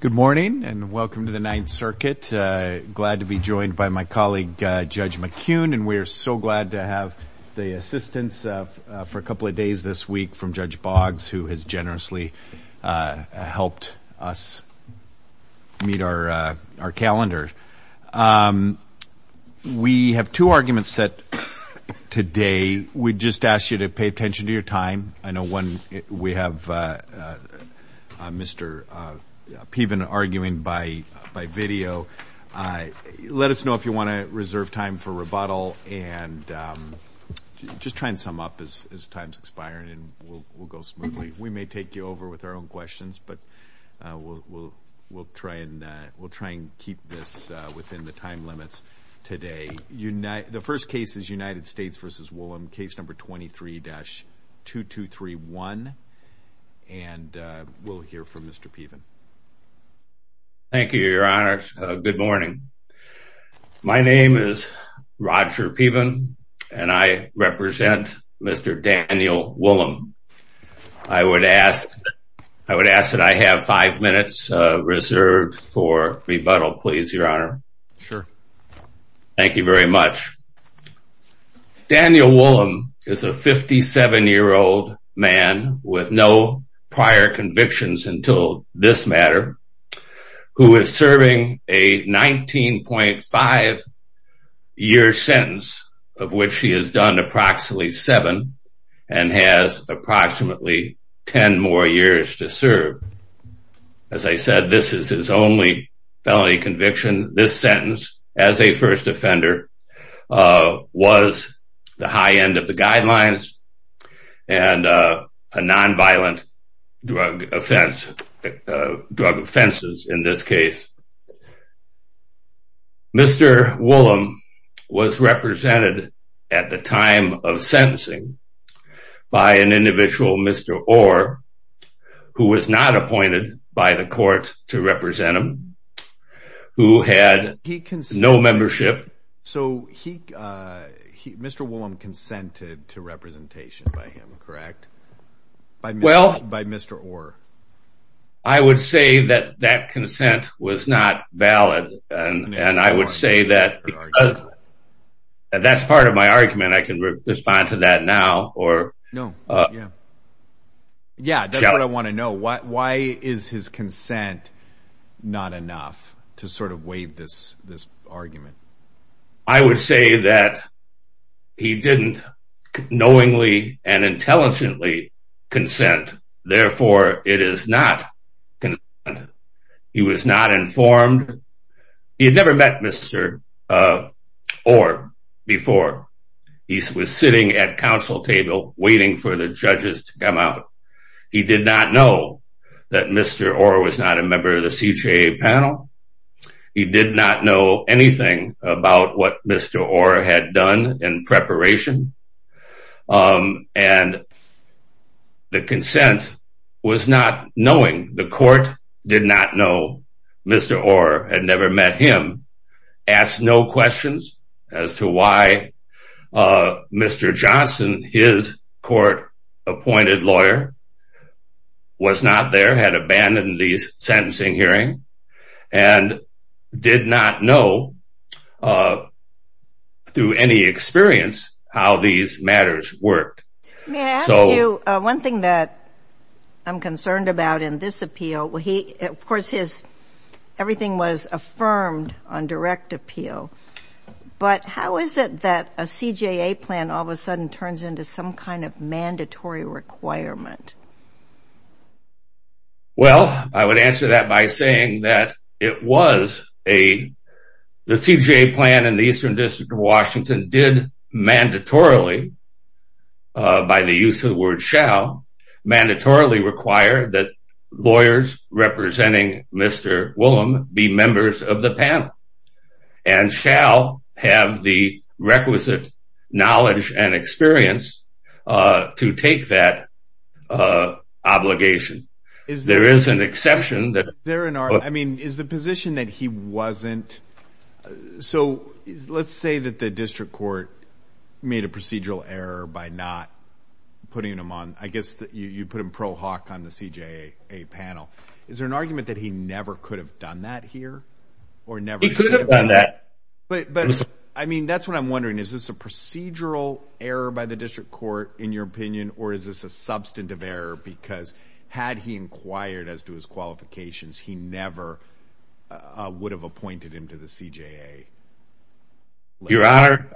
Good morning, and welcome to the Ninth Circuit. Glad to be joined by my colleague, Judge McCune, and we are so glad to have the assistance for a couple of days this week from Judge Boggs, who has generously helped us meet our calendar. We have two arguments set today. We just ask you to pay attention to your time. I know we have Mr. Piven arguing by video. Let us know if you want to reserve time for rebuttal, and just try and sum up as time is expiring and we'll go smoothly. We may take you over with our own questions, but we'll try and keep this within the time limits today. The first case is United States v. Woolem, case number 23-2231. We'll hear from Mr. Piven. Thank you, Your Honor. Good morning. My name is Roger Piven, and I represent Mr. Daniel Woolem. I would ask that I have five minutes reserved for rebuttal, please, Your Honor. Sure. Thank you very much. Daniel Woolem is a 57-year-old man with no prior convictions until this matter, who is serving a 19.5-year sentence, of which he has done approximately seven, and has approximately 10 more years to serve. As I said, this is his only felony conviction. This sentence, as a first offender, was the high end of the guidelines and a nonviolent drug offense, drug offenses in this case. Mr. Woolem was represented at the time of sentencing by an individual, Mr. Orr, who was not appointed by the court to represent him, who had no membership. So Mr. Woolem consented to representation by him, correct? By Mr. Orr. I would say that that consent was not valid, and I would say that that's part of my argument. I can respond to that now. Yeah, that's what I want to know. Why is his consent not enough to sort of waive this argument? I would say that he didn't knowingly and intelligently consent, therefore it is not consent. He was not informed. He had never met Mr. Orr before. He was sitting at council table waiting for the judges to come out. He did not know that Mr. Orr was not a member of the CJA panel. He did not know anything about what Mr. Orr had done in preparation, and the consent was not knowing. The court did not know. Mr. Orr had never met him. Asked no questions as to why Mr. Johnson, his court-appointed lawyer, was not there, had abandoned the sentencing hearing, and did not know through any experience how these matters worked. May I ask you one thing that I'm concerned about in this appeal? Of course, everything was affirmed on direct appeal, but how is it that a CJA plan all of a sudden turns into some kind of mandatory requirement? Well, I would answer that by saying that it was a CJA plan, and the Eastern District of Washington did mandatorily, by the use of the word shall, mandatorily require that lawyers representing Mr. Woolham be members of the panel and shall have the requisite knowledge and experience to take that obligation. There is an exception. Is the position that he wasn't so let's say that the district court made a procedural error by not putting him on, I guess you put him pro hoc on the CJA panel. Is there an argument that he never could have done that here? He could have done that. I mean, that's what I'm wondering. Is this a procedural error by the district court, in your opinion, or is this a substantive error because had he inquired as to his qualifications, he never would have appointed him to the CJA? Your Honor,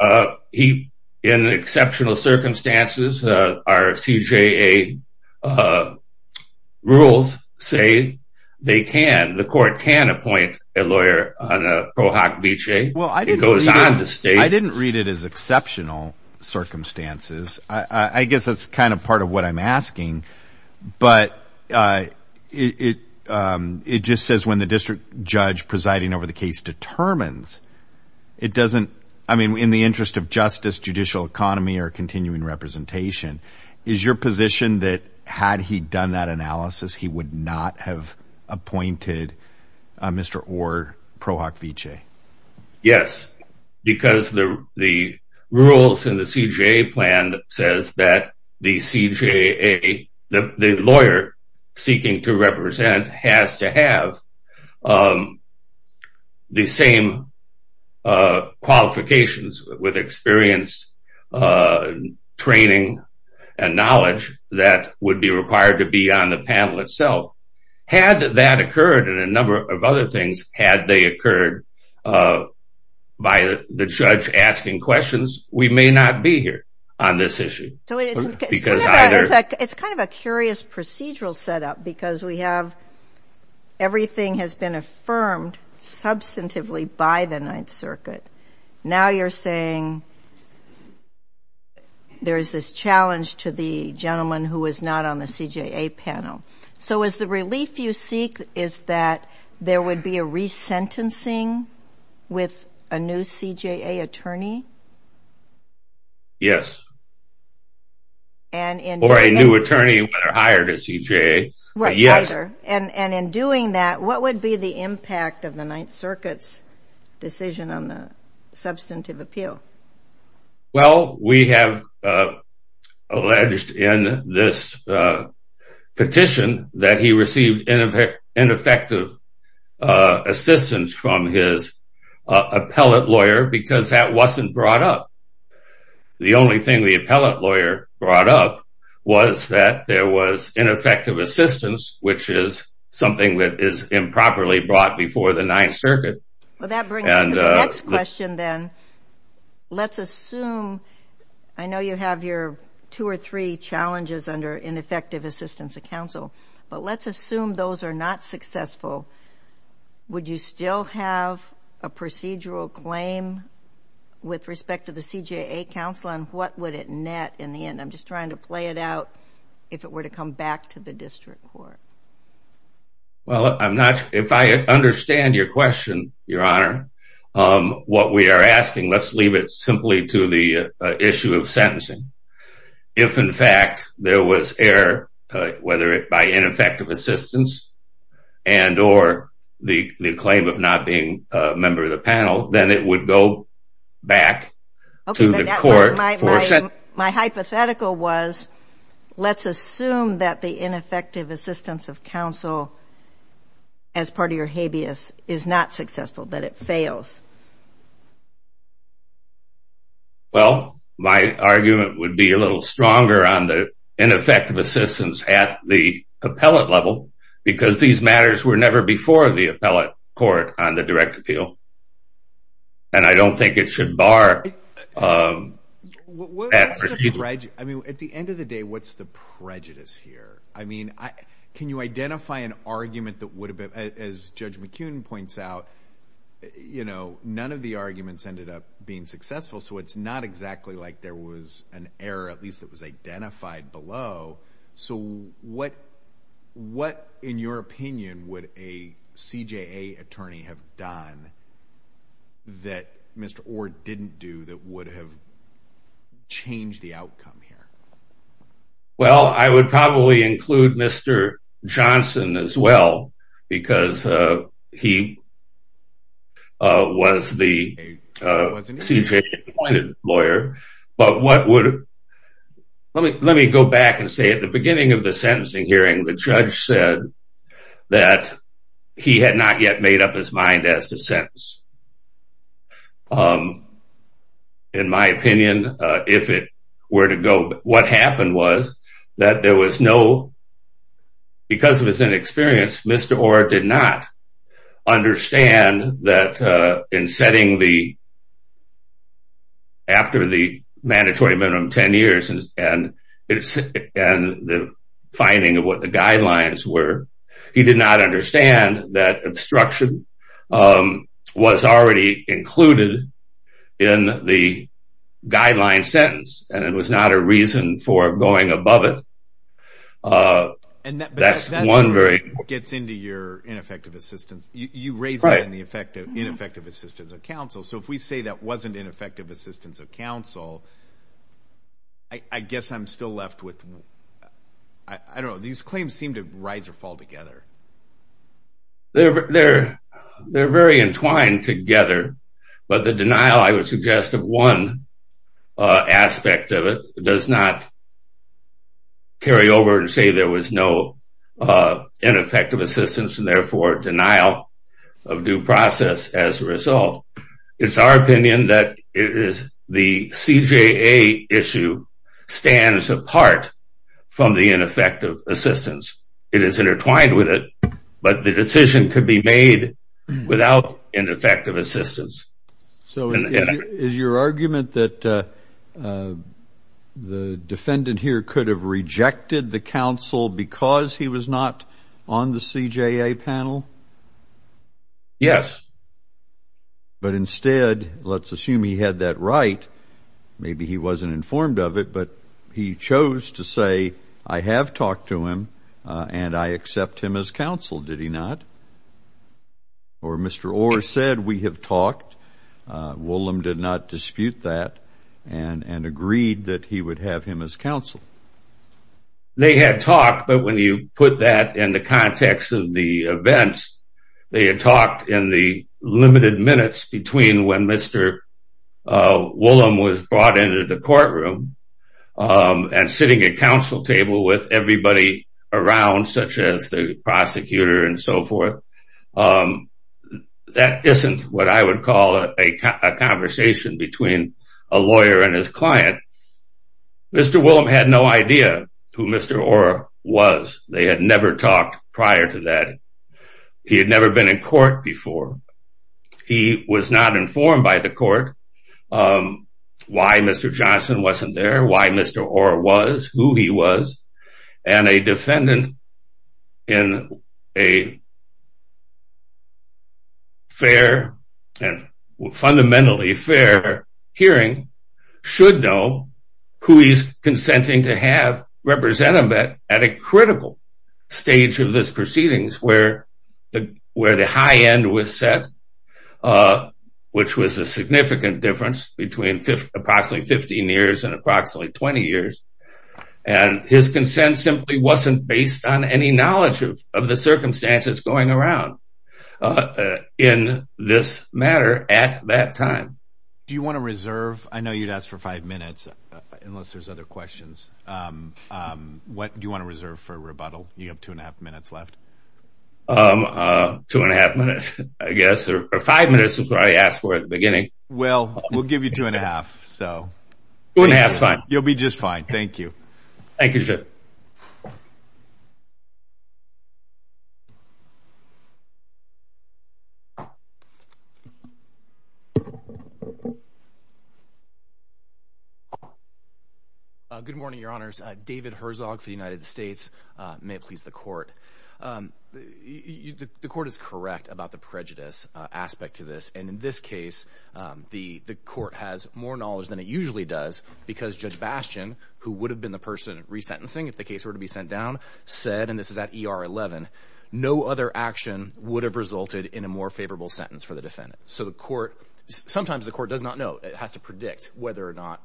in exceptional circumstances, our CJA rules say they can, the court can appoint a lawyer on a pro hoc viche. It goes on to state. I didn't read it as exceptional circumstances. I guess that's kind of part of what I'm asking, but it just says when the district judge presiding over the case determines, it doesn't, I mean, in the interest of justice, judicial economy, or continuing representation, is your position that had he done that analysis, he would not have appointed Mr. Orr pro hoc viche? Yes, because the rules in the CJA plan says that the CJA, the lawyer seeking to represent has to have the same qualifications with experience, training, and knowledge that would be required to be on the panel itself. Had that occurred and a number of other things, had they occurred by the judge asking questions, we may not be here on this issue. It's kind of a curious procedural setup because we have everything has been affirmed substantively by the Ninth Circuit. Now you're saying there's this challenge to the gentleman who is not on the CJA panel. So is the relief you seek is that there would be a resentencing with a new CJA attorney? Yes. Or a new attorney when they're hired at CJA. Right, either. And in doing that, what would be the impact of the Ninth Circuit's decision on the substantive appeal? Well, we have alleged in this petition that he received ineffective assistance from his appellate lawyer because that wasn't brought up. The only thing the appellate lawyer brought up was that there was ineffective assistance, which is something that is improperly brought before the Ninth Circuit. Well, that brings me to the next question then. Let's assume, I know you have your two or three challenges under ineffective assistance of counsel, but let's assume those are not successful. Would you still have a procedural claim with respect to the CJA counsel and what would it net in the end? I'm just trying to play it out if it were to come back to the district court. Well, if I understand your question, Your Honor, what we are asking, let's leave it simply to the issue of sentencing. If, in fact, there was error, whether by ineffective assistance and or the claim of not being a member of the panel, then it would go back to the court for sentencing. My hypothetical was, let's assume that the ineffective assistance of counsel as part of your habeas is not successful, that it fails. Well, my argument would be a little stronger on the ineffective assistance at the appellate level because these matters were never before the appellate court on the direct appeal. I don't think it should bar... At the end of the day, what's the prejudice here? Can you identify an argument that would have been... As Judge McKeown points out, none of the arguments ended up being successful, so it's not exactly like there was an error, at least it was identified below. So what, in your opinion, would a CJA attorney have done that Mr. Orr didn't do that would have changed the outcome here? Well, I would probably include Mr. Johnson as well because he was the CJA-appointed lawyer. But what would... Let me go back and say at the beginning of the sentencing hearing, the judge said that he had not yet made up his mind as to sentence. In my opinion, if it were to go... What happened was that there was no... mandatory minimum 10 years and the finding of what the guidelines were. He did not understand that obstruction was already included in the guideline sentence and it was not a reason for going above it. That's one very... But that gets into your ineffective assistance. You raised that in the ineffective assistance of counsel. So if we say that wasn't ineffective assistance of counsel, I guess I'm still left with... I don't know. These claims seem to rise or fall together. They're very entwined together, but the denial, I would suggest, of one aspect of it does not carry over and say there was no ineffective assistance and, therefore, denial of due process as a result. It's our opinion that the CJA issue stands apart from the ineffective assistance. It is intertwined with it, but the decision could be made without ineffective assistance. So is your argument that the defendant here could have rejected the counsel because he was not on the CJA panel? Yes. But instead, let's assume he had that right, maybe he wasn't informed of it, but he chose to say, I have talked to him and I accept him as counsel, did he not? Or Mr. Orr said, we have talked. Woolam did not dispute that and agreed that he would have him as counsel. They had talked, but when you put that in the context of the events, they had talked in the limited minutes between when Mr. Woolam was brought into the courtroom and sitting at counsel table with everybody around, such as the prosecutor and so forth. That isn't what I would call a conversation between a lawyer and his client. Mr. Woolam had no idea who Mr. Orr was. They had never talked prior to that. He had never been in court before. He was not informed by the court why Mr. Johnson wasn't there, why Mr. Orr was, who he was. And a defendant in a fundamentally fair hearing should know who he's consenting to have represent him at a critical stage of this proceedings where the high end was set, which was a significant difference between approximately 15 years and approximately 20 years. And his consent simply wasn't based on any knowledge of the circumstances going around in this matter at that time. Do you want to reserve? I know you'd ask for five minutes unless there's other questions. What do you want to reserve for rebuttal? You have two and a half minutes left. Two and a half minutes, I guess, or five minutes is what I asked for at the beginning. Well, we'll give you two and a half. Two and a half is fine. You'll be just fine. Thank you. Thank you, sir. Good morning, Your Honors. David Herzog for the United States. May it please the court. The court is correct about the prejudice aspect to this. And in this case, the court has more knowledge than it usually does because Judge Bastian, who would have been the person resentencing if the case were to be sent down, said, and this is at ER 11, no other action would have resulted in a more favorable sentence for the defendant. So the court, sometimes the court does not know. It has to predict whether or not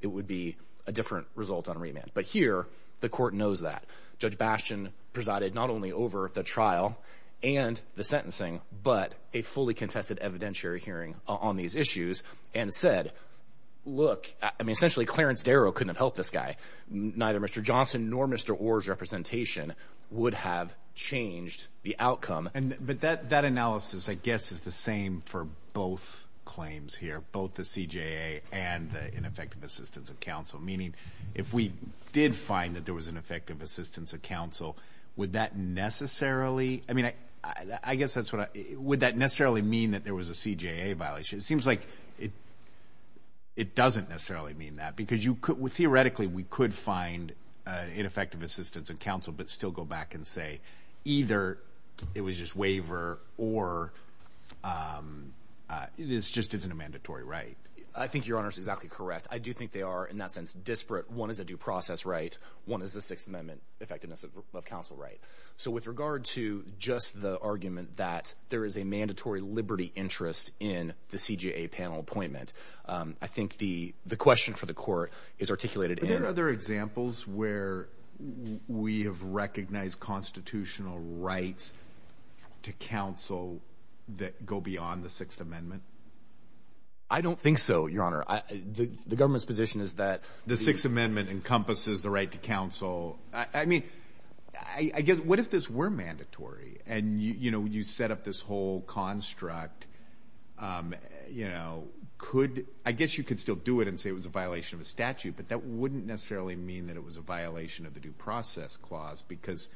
it would be a different result on remand. But here, the court knows that. Judge Bastian presided not only over the trial and the sentencing, but a fully contested evidentiary hearing on these issues and said, look, essentially Clarence Darrow couldn't have helped this guy. Neither Mr. Johnson nor Mr. Orr's representation would have changed the outcome. But that analysis, I guess, is the same for both claims here, both the CJA and the ineffective assistance of counsel, meaning if we did find that there was ineffective assistance of counsel, would that necessarily, I mean, I guess that's what I, would that necessarily mean that there was a CJA violation? It seems like it doesn't necessarily mean that because you could, theoretically we could find ineffective assistance of counsel, but still go back and say either it was just waiver or it just isn't a mandatory right. I think Your Honor is exactly correct. I do think they are in that sense disparate. One is a due process right. One is the Sixth Amendment effectiveness of counsel right. So with regard to just the argument that there is a mandatory liberty interest in the CJA panel appointment, I think the question for the court is articulated in- Are there other examples where we have recognized constitutional rights to counsel that go beyond the Sixth Amendment? I don't think so, Your Honor. The government's position is that- The Sixth Amendment encompasses the right to counsel. I mean, I guess, what if this were mandatory and, you know, you set up this whole construct, you know, could, I guess you could still do it and say it was a violation of a statute, but that wouldn't necessarily mean that it was a violation of the due process clause because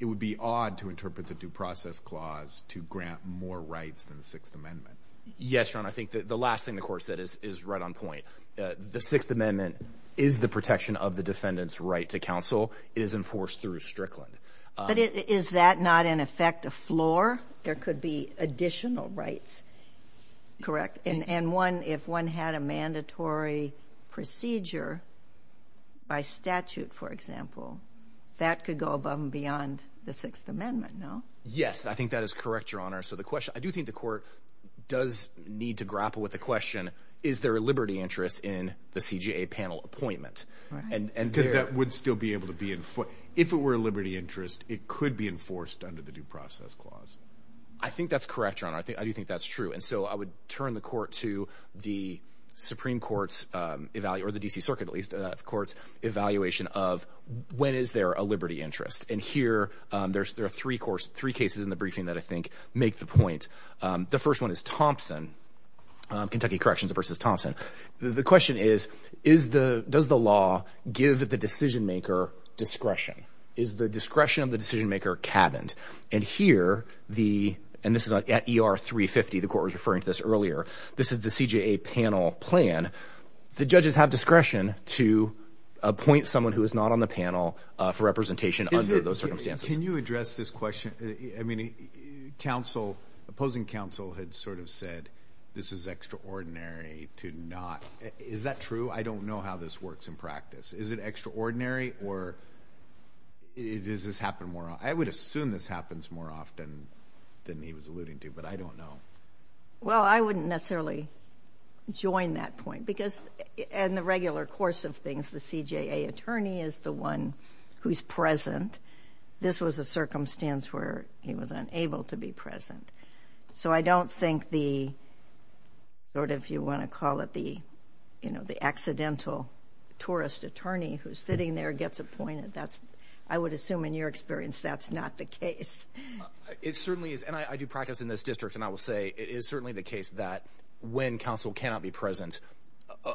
it would be odd to interpret the due process clause to grant more rights than the Sixth Amendment. Yes, Your Honor. I think the last thing the court said is right on point. The Sixth Amendment is the protection of the defendant's right to counsel. It is enforced through Strickland. But is that not, in effect, a floor? There could be additional rights, correct? And one, if one had a mandatory procedure by statute, for example, that could go above and beyond the Sixth Amendment, no? Yes, I think that is correct, Your Honor. So the question, I do think the court does need to grapple with the question, is there a liberty interest in the CJA panel appointment? Because that would still be able to be enforced. If it were a liberty interest, it could be enforced under the due process clause. I think that's correct, Your Honor. I do think that's true. And so I would turn the court to the Supreme Court's, or the D.C. Circuit at least, the court's evaluation of when is there a liberty interest. And here, there are three cases in the briefing that I think make the point. The first one is Thompson, Kentucky Corrections v. Thompson. The question is, does the law give the decision-maker discretion? Is the discretion of the decision-maker cabined? And here, and this is at ER 350, the court was referring to this earlier, this is the CJA panel plan. The judges have discretion to appoint someone who is not on the panel for representation under those circumstances. Can you address this question? I mean, opposing counsel had sort of said this is extraordinary to not. Is that true? I don't know how this works in practice. Is it extraordinary, or does this happen more often? I would assume this happens more often than he was alluding to, but I don't know. Well, I wouldn't necessarily join that point. Because in the regular course of things, the CJA attorney is the one who's present. This was a circumstance where he was unable to be present. So I don't think the sort of you want to call it the accidental tourist attorney who's sitting there gets appointed. I would assume in your experience that's not the case. It certainly is, and I do practice in this district, and I will say it is certainly the case that when counsel cannot be present,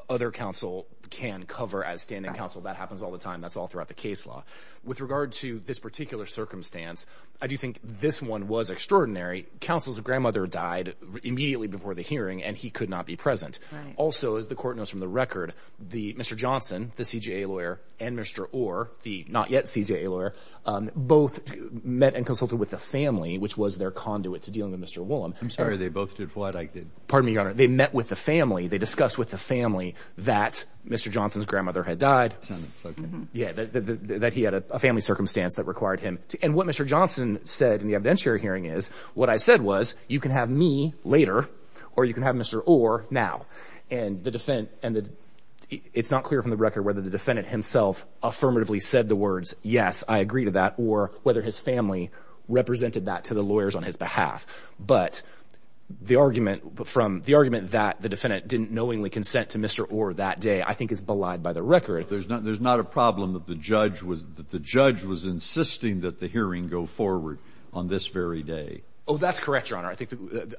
other counsel can cover as standing counsel. That happens all the time. That's all throughout the case law. With regard to this particular circumstance, I do think this one was extraordinary. Counsel's grandmother died immediately before the hearing, and he could not be present. Also, as the court knows from the record, Mr. Johnson, the CJA lawyer, and Mr. Orr, the not-yet-CJA lawyer, both met and consulted with the family, which was their conduit to dealing with Mr. Woolham. I'm sorry. They both did what? Pardon me, Your Honor. They met with the family. They discussed with the family that Mr. Johnson's grandmother had died, that he had a family circumstance that required him. And what Mr. Johnson said in the evidentiary hearing is, what I said was, you can have me later or you can have Mr. Orr now. And it's not clear from the record whether the defendant himself affirmatively said the words, yes, I agree to that, or whether his family represented that to the lawyers on his behalf. But the argument that the defendant didn't knowingly consent to Mr. Orr that day I think is belied by the record. There's not a problem that the judge was insisting that the hearing go forward on this very day. Oh, that's correct, Your Honor.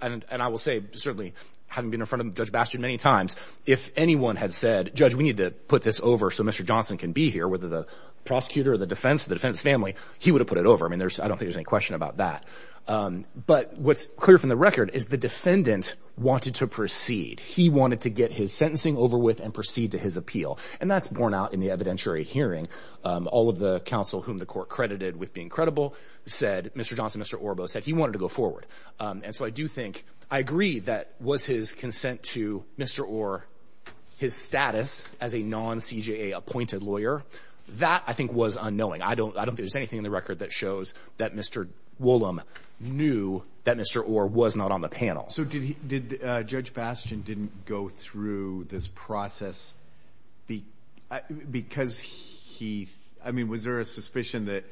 And I will say, certainly having been in front of Judge Bastian many times, if anyone had said, Judge, we need to put this over so Mr. Johnson can be here, whether the prosecutor or the defense or the defendant's family, he would have put it over. I mean, I don't think there's any question about that. But what's clear from the record is the defendant wanted to proceed. He wanted to get his sentencing over with and proceed to his appeal. And that's borne out in the evidentiary hearing. All of the counsel whom the court credited with being credible said, Mr. Johnson, Mr. Orr both said he wanted to go forward. And so I do think I agree that was his consent to Mr. Orr, his status as a non-CJA appointed lawyer, that I think was unknowing. I don't think there's anything in the record that shows that Mr. Woolham knew that Mr. Orr was not on the panel. So did Judge Bastian didn't go through this process because he, I mean, was there a suspicion that,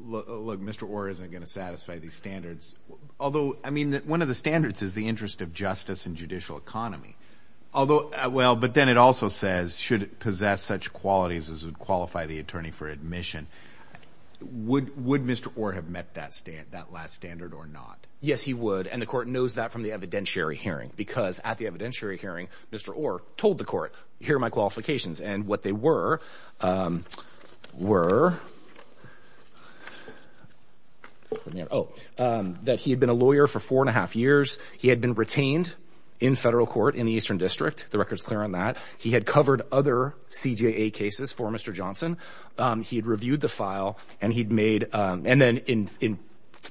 look, Mr. Orr isn't going to satisfy these standards? Although, I mean, one of the standards is the interest of justice and judicial economy. Although, well, but then it also says, should it possess such qualities as would qualify the attorney for admission, would Mr. Orr have met that last standard or not? Yes, he would. And the court knows that from the evidentiary hearing because at the evidentiary hearing, Mr. Orr told the court, here are my qualifications. And what they were, were, oh, that he had been a lawyer for four and a half years. He had been retained in federal court in the Eastern District. The record's clear on that. He had covered other CJA cases for Mr. Johnson. He had reviewed the file and he'd made and then in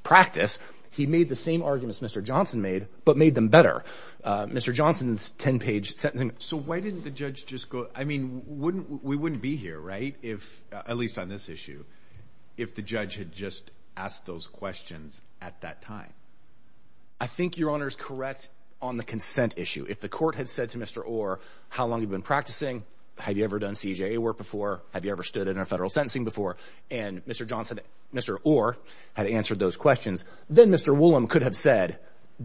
practice, he made the same arguments Mr. Johnson made, but made them better. Mr. Johnson's 10-page sentencing. So why didn't the judge just go, I mean, wouldn't, we wouldn't be here, right, if, at least on this issue, if the judge had just asked those questions at that time? I think Your Honor's correct on the consent issue. If the court had said to Mr. Orr, how long have you been practicing? Have you ever done CJA work before? Have you ever stood in a federal sentencing before? And Mr. Johnson, Mr. Orr had answered those questions. Then Mr. Woolham could have said,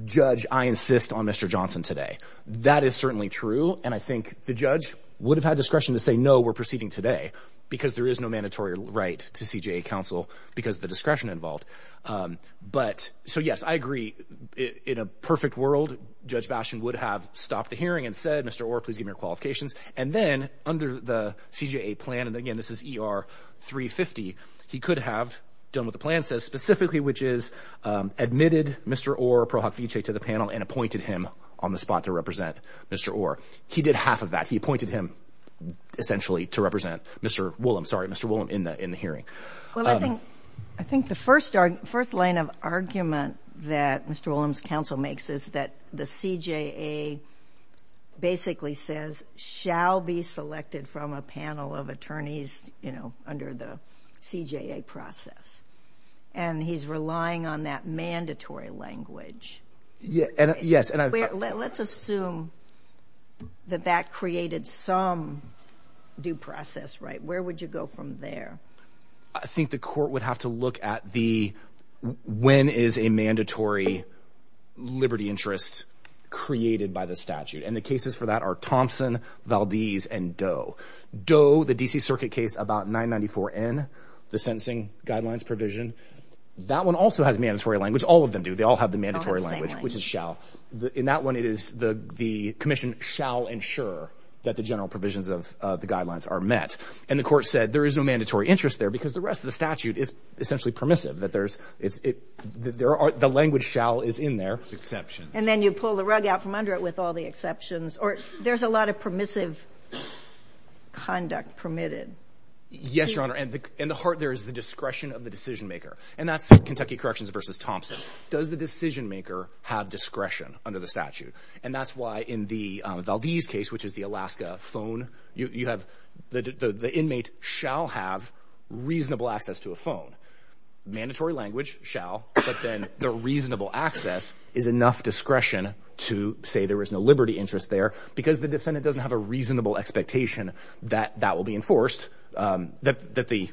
judge, I insist on Mr. Johnson today. That is certainly true. And I think the judge would have had discretion to say, no, we're proceeding today because there is no mandatory right to CJA counsel because the discretion involved. But so, yes, I agree. In a perfect world, Judge Bastian would have stopped the hearing and said, Mr. Orr, please give me your qualifications. And then under the CJA plan, and again, this is ER 350, he could have done what the plan says specifically, which is admitted Mr. Orr Pro Hoc Vitae to the panel and appointed him on the spot to represent Mr. Orr. He did half of that. He appointed him essentially to represent Mr. Woolham, sorry, Mr. Woolham in the hearing. Well, I think the first line of argument that Mr. Woolham's counsel makes is that the CJA basically says, shall be selected from a panel of attorneys under the CJA process. And he's relying on that mandatory language. Yes. And let's assume that that created some due process. Right. Where would you go from there? I think the court would have to look at the when is a mandatory liberty interest created by the statute. And the cases for that are Thompson, Valdez and Doe. Doe, the D.C. Circuit case about 994 N, the sentencing guidelines provision. That one also has mandatory language. All of them do. They all have the mandatory language, which is shall. In that one, it is the commission shall ensure that the general provisions of the guidelines are met. And the court said there is no mandatory interest there because the rest of the statute is essentially permissive, that there's it's it there are the language shall is in their exception. And then you pull the rug out from under it with all the exceptions or there's a lot of permissive conduct permitted. Yes, your honor. And in the heart, there is the discretion of the decision maker. And that's Kentucky Corrections versus Thompson. Does the decision maker have discretion under the statute? And that's why in the Valdez case, which is the Alaska phone, you have the inmate shall have reasonable access to a phone. Mandatory language shall. But then the reasonable access is enough discretion to say there is no liberty interest there because the defendant doesn't have a reasonable expectation that that will be enforced, that the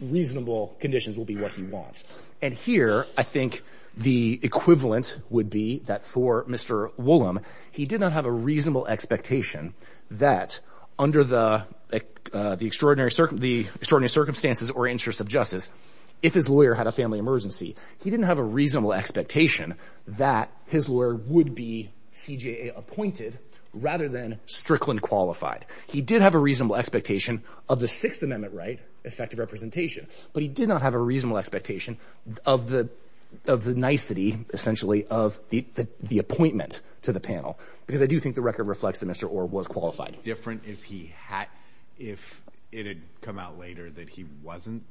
reasonable conditions will be what he wants. And here, I think the equivalent would be that for Mr. Woolham, he did not have a reasonable expectation that under the extraordinary, the extraordinary circumstances or interests of justice, if his lawyer had a family emergency, he didn't have a reasonable expectation that his lawyer would be CJA appointed rather than Strickland qualified. He did have a reasonable expectation of the Sixth Amendment right, effective representation, but he did not have a reasonable expectation of the of the nicety, essentially, of the appointment to the panel, because I do think the record reflects that Mr. Orr was qualified. Would it have been different if he had, if it had come out later that he wasn't,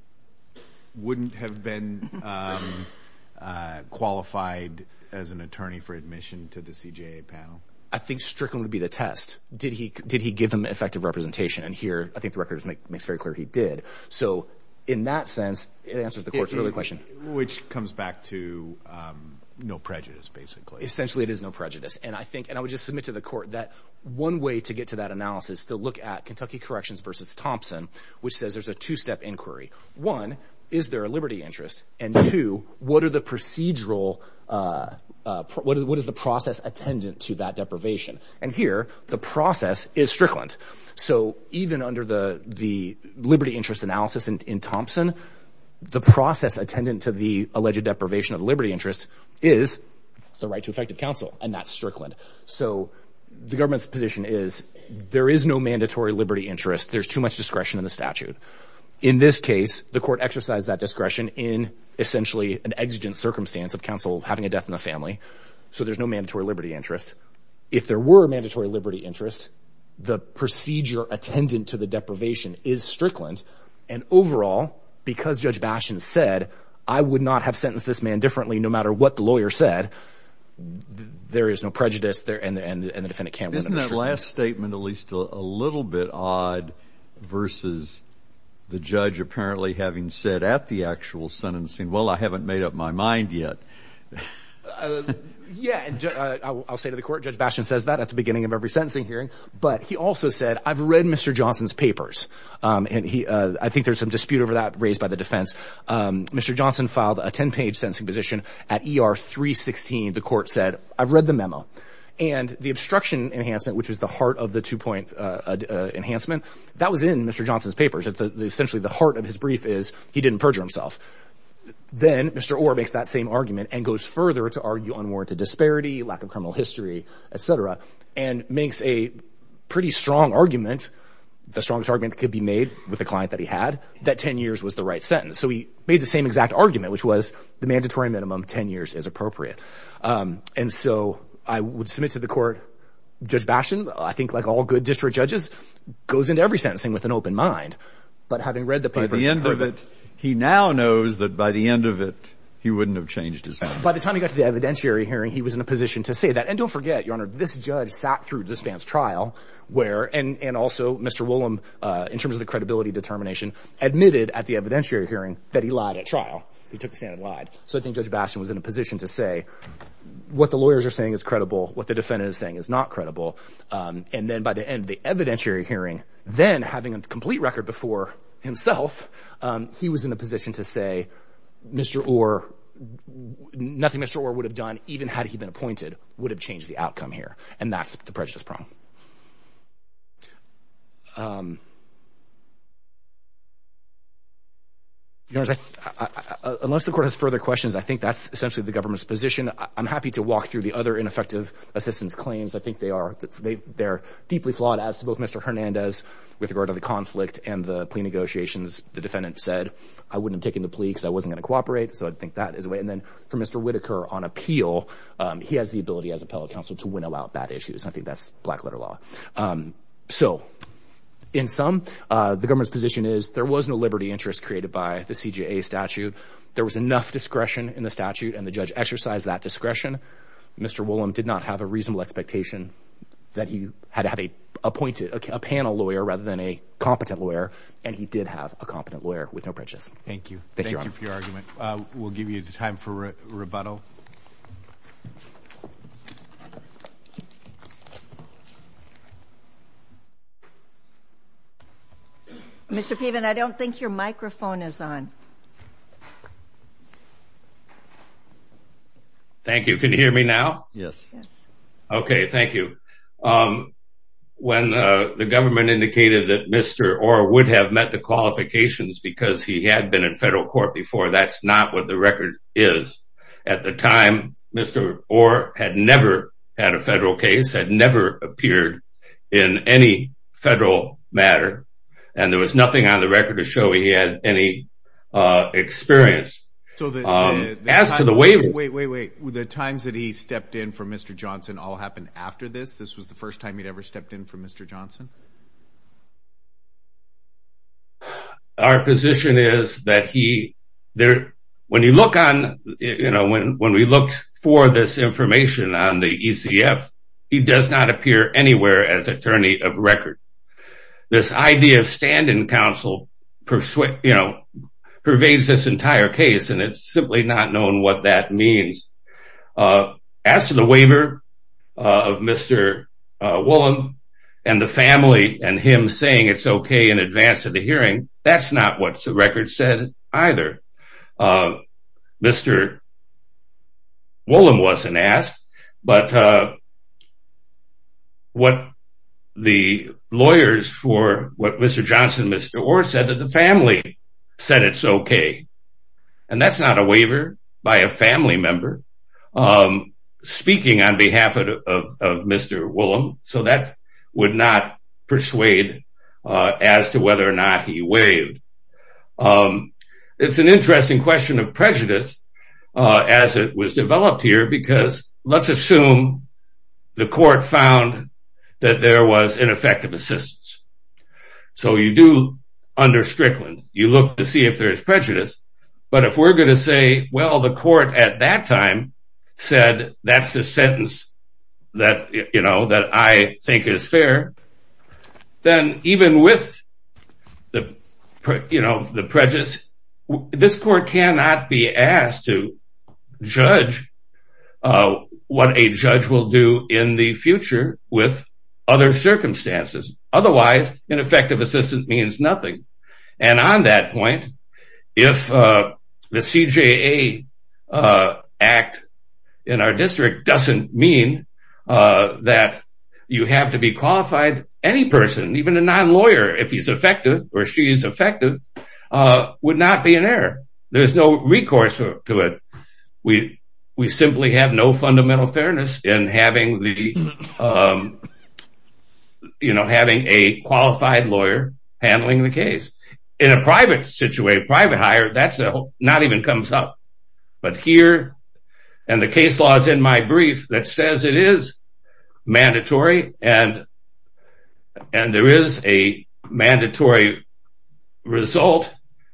wouldn't have been qualified as an attorney for admission to the CJA panel? I think Strickland would be the test. Did he give him effective representation? And here, I think the record makes very clear he did. So in that sense, it answers the court's earlier question. Which comes back to no prejudice, basically. Essentially, it is no prejudice. And I think and I would just submit to the court that one way to get to that analysis, to look at Kentucky Corrections versus Thompson, which says there's a two step inquiry. One, is there a liberty interest? And two, what are the procedural? What is the process attendant to that deprivation? And here the process is Strickland. So even under the the liberty interest analysis in Thompson, the process attendant to the alleged deprivation of liberty interest is the right to effective counsel. And that's Strickland. So the government's position is there is no mandatory liberty interest. There's too much discretion in the statute. In this case, the court exercised that discretion in essentially an exigent circumstance of counsel having a death in the family. So there's no mandatory liberty interest. If there were a mandatory liberty interest, the procedure attendant to the deprivation is Strickland. And overall, because Judge Bashin said, I would not have sentenced this man differently no matter what the lawyer said. There is no prejudice there. And the defendant can't remember. Isn't that last statement at least a little bit odd versus the judge apparently having said at the actual sentencing, well, I haven't made up my mind yet. Yeah. I'll say to the court, Judge Bashin says that at the beginning of every sentencing hearing. But he also said, I've read Mr. Johnson's papers and he I think there's some dispute over that raised by the defense. Mr. Johnson filed a 10 page sentencing position at E.R. 316. The court said, I've read the memo and the obstruction enhancement, which is the heart of the two point enhancement. That was in Mr. Johnson's papers. Essentially, the heart of his brief is he didn't perjure himself. Then Mr. Orr makes that same argument and goes further to argue unwarranted disparity, lack of criminal history, et cetera, and makes a pretty strong argument. The strongest argument could be made with the client that he had, that 10 years was the right sentence. So he made the same exact argument, which was the mandatory minimum 10 years is appropriate. And so I would submit to the court, Judge Bashin, I think like all good district judges, goes into every sentencing with an open mind. But having read the paper, the end of it, he now knows that by the end of it, he wouldn't have changed his mind. By the time he got to the evidentiary hearing, he was in a position to say that. And don't forget, your honor, this judge sat through this man's trial where and also Mr. Willem, in terms of the credibility determination, admitted at the evidentiary hearing that he lied at trial. He took the stand and lied. So I think Judge Basin was in a position to say what the lawyers are saying is credible, what the defendant is saying is not credible. And then by the end of the evidentiary hearing, then having a complete record before himself, he was in a position to say, Mr. Orr, nothing Mr. Orr would have done, even had he been appointed, would have changed the outcome here. And that's the prejudice prong. Unless the court has further questions, I think that's essentially the government's position. I'm happy to walk through the other ineffective assistance claims. I think they are deeply flawed as to both Mr. Hernandez with regard to the conflict and the plea negotiations. The defendant said, I wouldn't have taken the plea because I wasn't going to cooperate. So I think that is a way. And then for Mr. Whitaker on appeal, he has the ability as appellate counsel to winnow out bad issues. I think that's black letter law. So in sum, the government's position is there was no liberty interest created by the CJA statute. There was enough discretion in the statute and the judge exercised that discretion. Mr. Willem did not have a reasonable expectation that he had to have a appointed panel lawyer rather than a competent lawyer. And he did have a competent lawyer with no prejudice. Thank you. Thank you for your argument. We'll give you time for rebuttal. Mr. Piven, I don't think your microphone is on. Thank you. Can you hear me now? Yes. Yes. Okay. Thank you. When the government indicated that Mr. Orr would have met the qualifications because he had been in federal court before, that's not what the record is. At the time, Mr. Orr had never had a federal case, had never appeared in any federal matter. And there was nothing on the record to show he had any experience. Wait, wait, wait. The times that he stepped in for Mr. Johnson all happened after this? This was the first time he'd ever stepped in for Mr. Our position is that when we looked for this information on the ECF, he does not appear anywhere as attorney of record. This idea of standing counsel pervades this entire case, and it's simply not known what that means. As to the waiver of Mr. Woolham and the family and him saying it's okay in advance of the hearing, that's not what the record said either. Mr. Woolham wasn't asked, but what the lawyers for what Mr. Johnson, Mr. Orr said that the family said it's okay. And that's not a waiver by a family member speaking on behalf of Mr. Woolham. So that would not persuade as to whether or not he waived. It's an interesting question of prejudice as it was developed here, because let's assume the court found that there was ineffective assistance. So you do under Strickland, you look to see if there is prejudice. But if we're going to say, well, the court at that time said, that's the sentence that, you know, that I think is fair. Then even with the prejudice, this court cannot be asked to judge what a judge will do in the future with other circumstances. Otherwise, ineffective assistance means nothing. And on that point, if the CJA act in our district doesn't mean that you have to be qualified, any person, even a non-lawyer, if he's effective or she's effective, would not be an error. There's no recourse to it. We simply have no fundamental fairness in having the, you know, having a qualified lawyer handling the case. In a private situation, private hire, that's not even comes up. But here, and the case law is in my brief that says it is mandatory, and there is a mandatory result.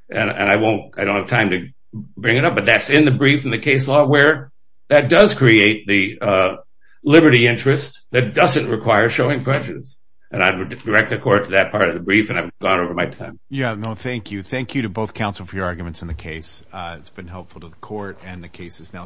And I won't, I don't have time to bring it up, but that's in the brief in the case law where that does create the liberty interest that doesn't require showing prejudice. And I would direct the court to that part of the brief, and I've gone over my time. Yeah, no, thank you. Thank you to both counsel for your arguments in the case. It's been helpful to the court, and the case is now submitted.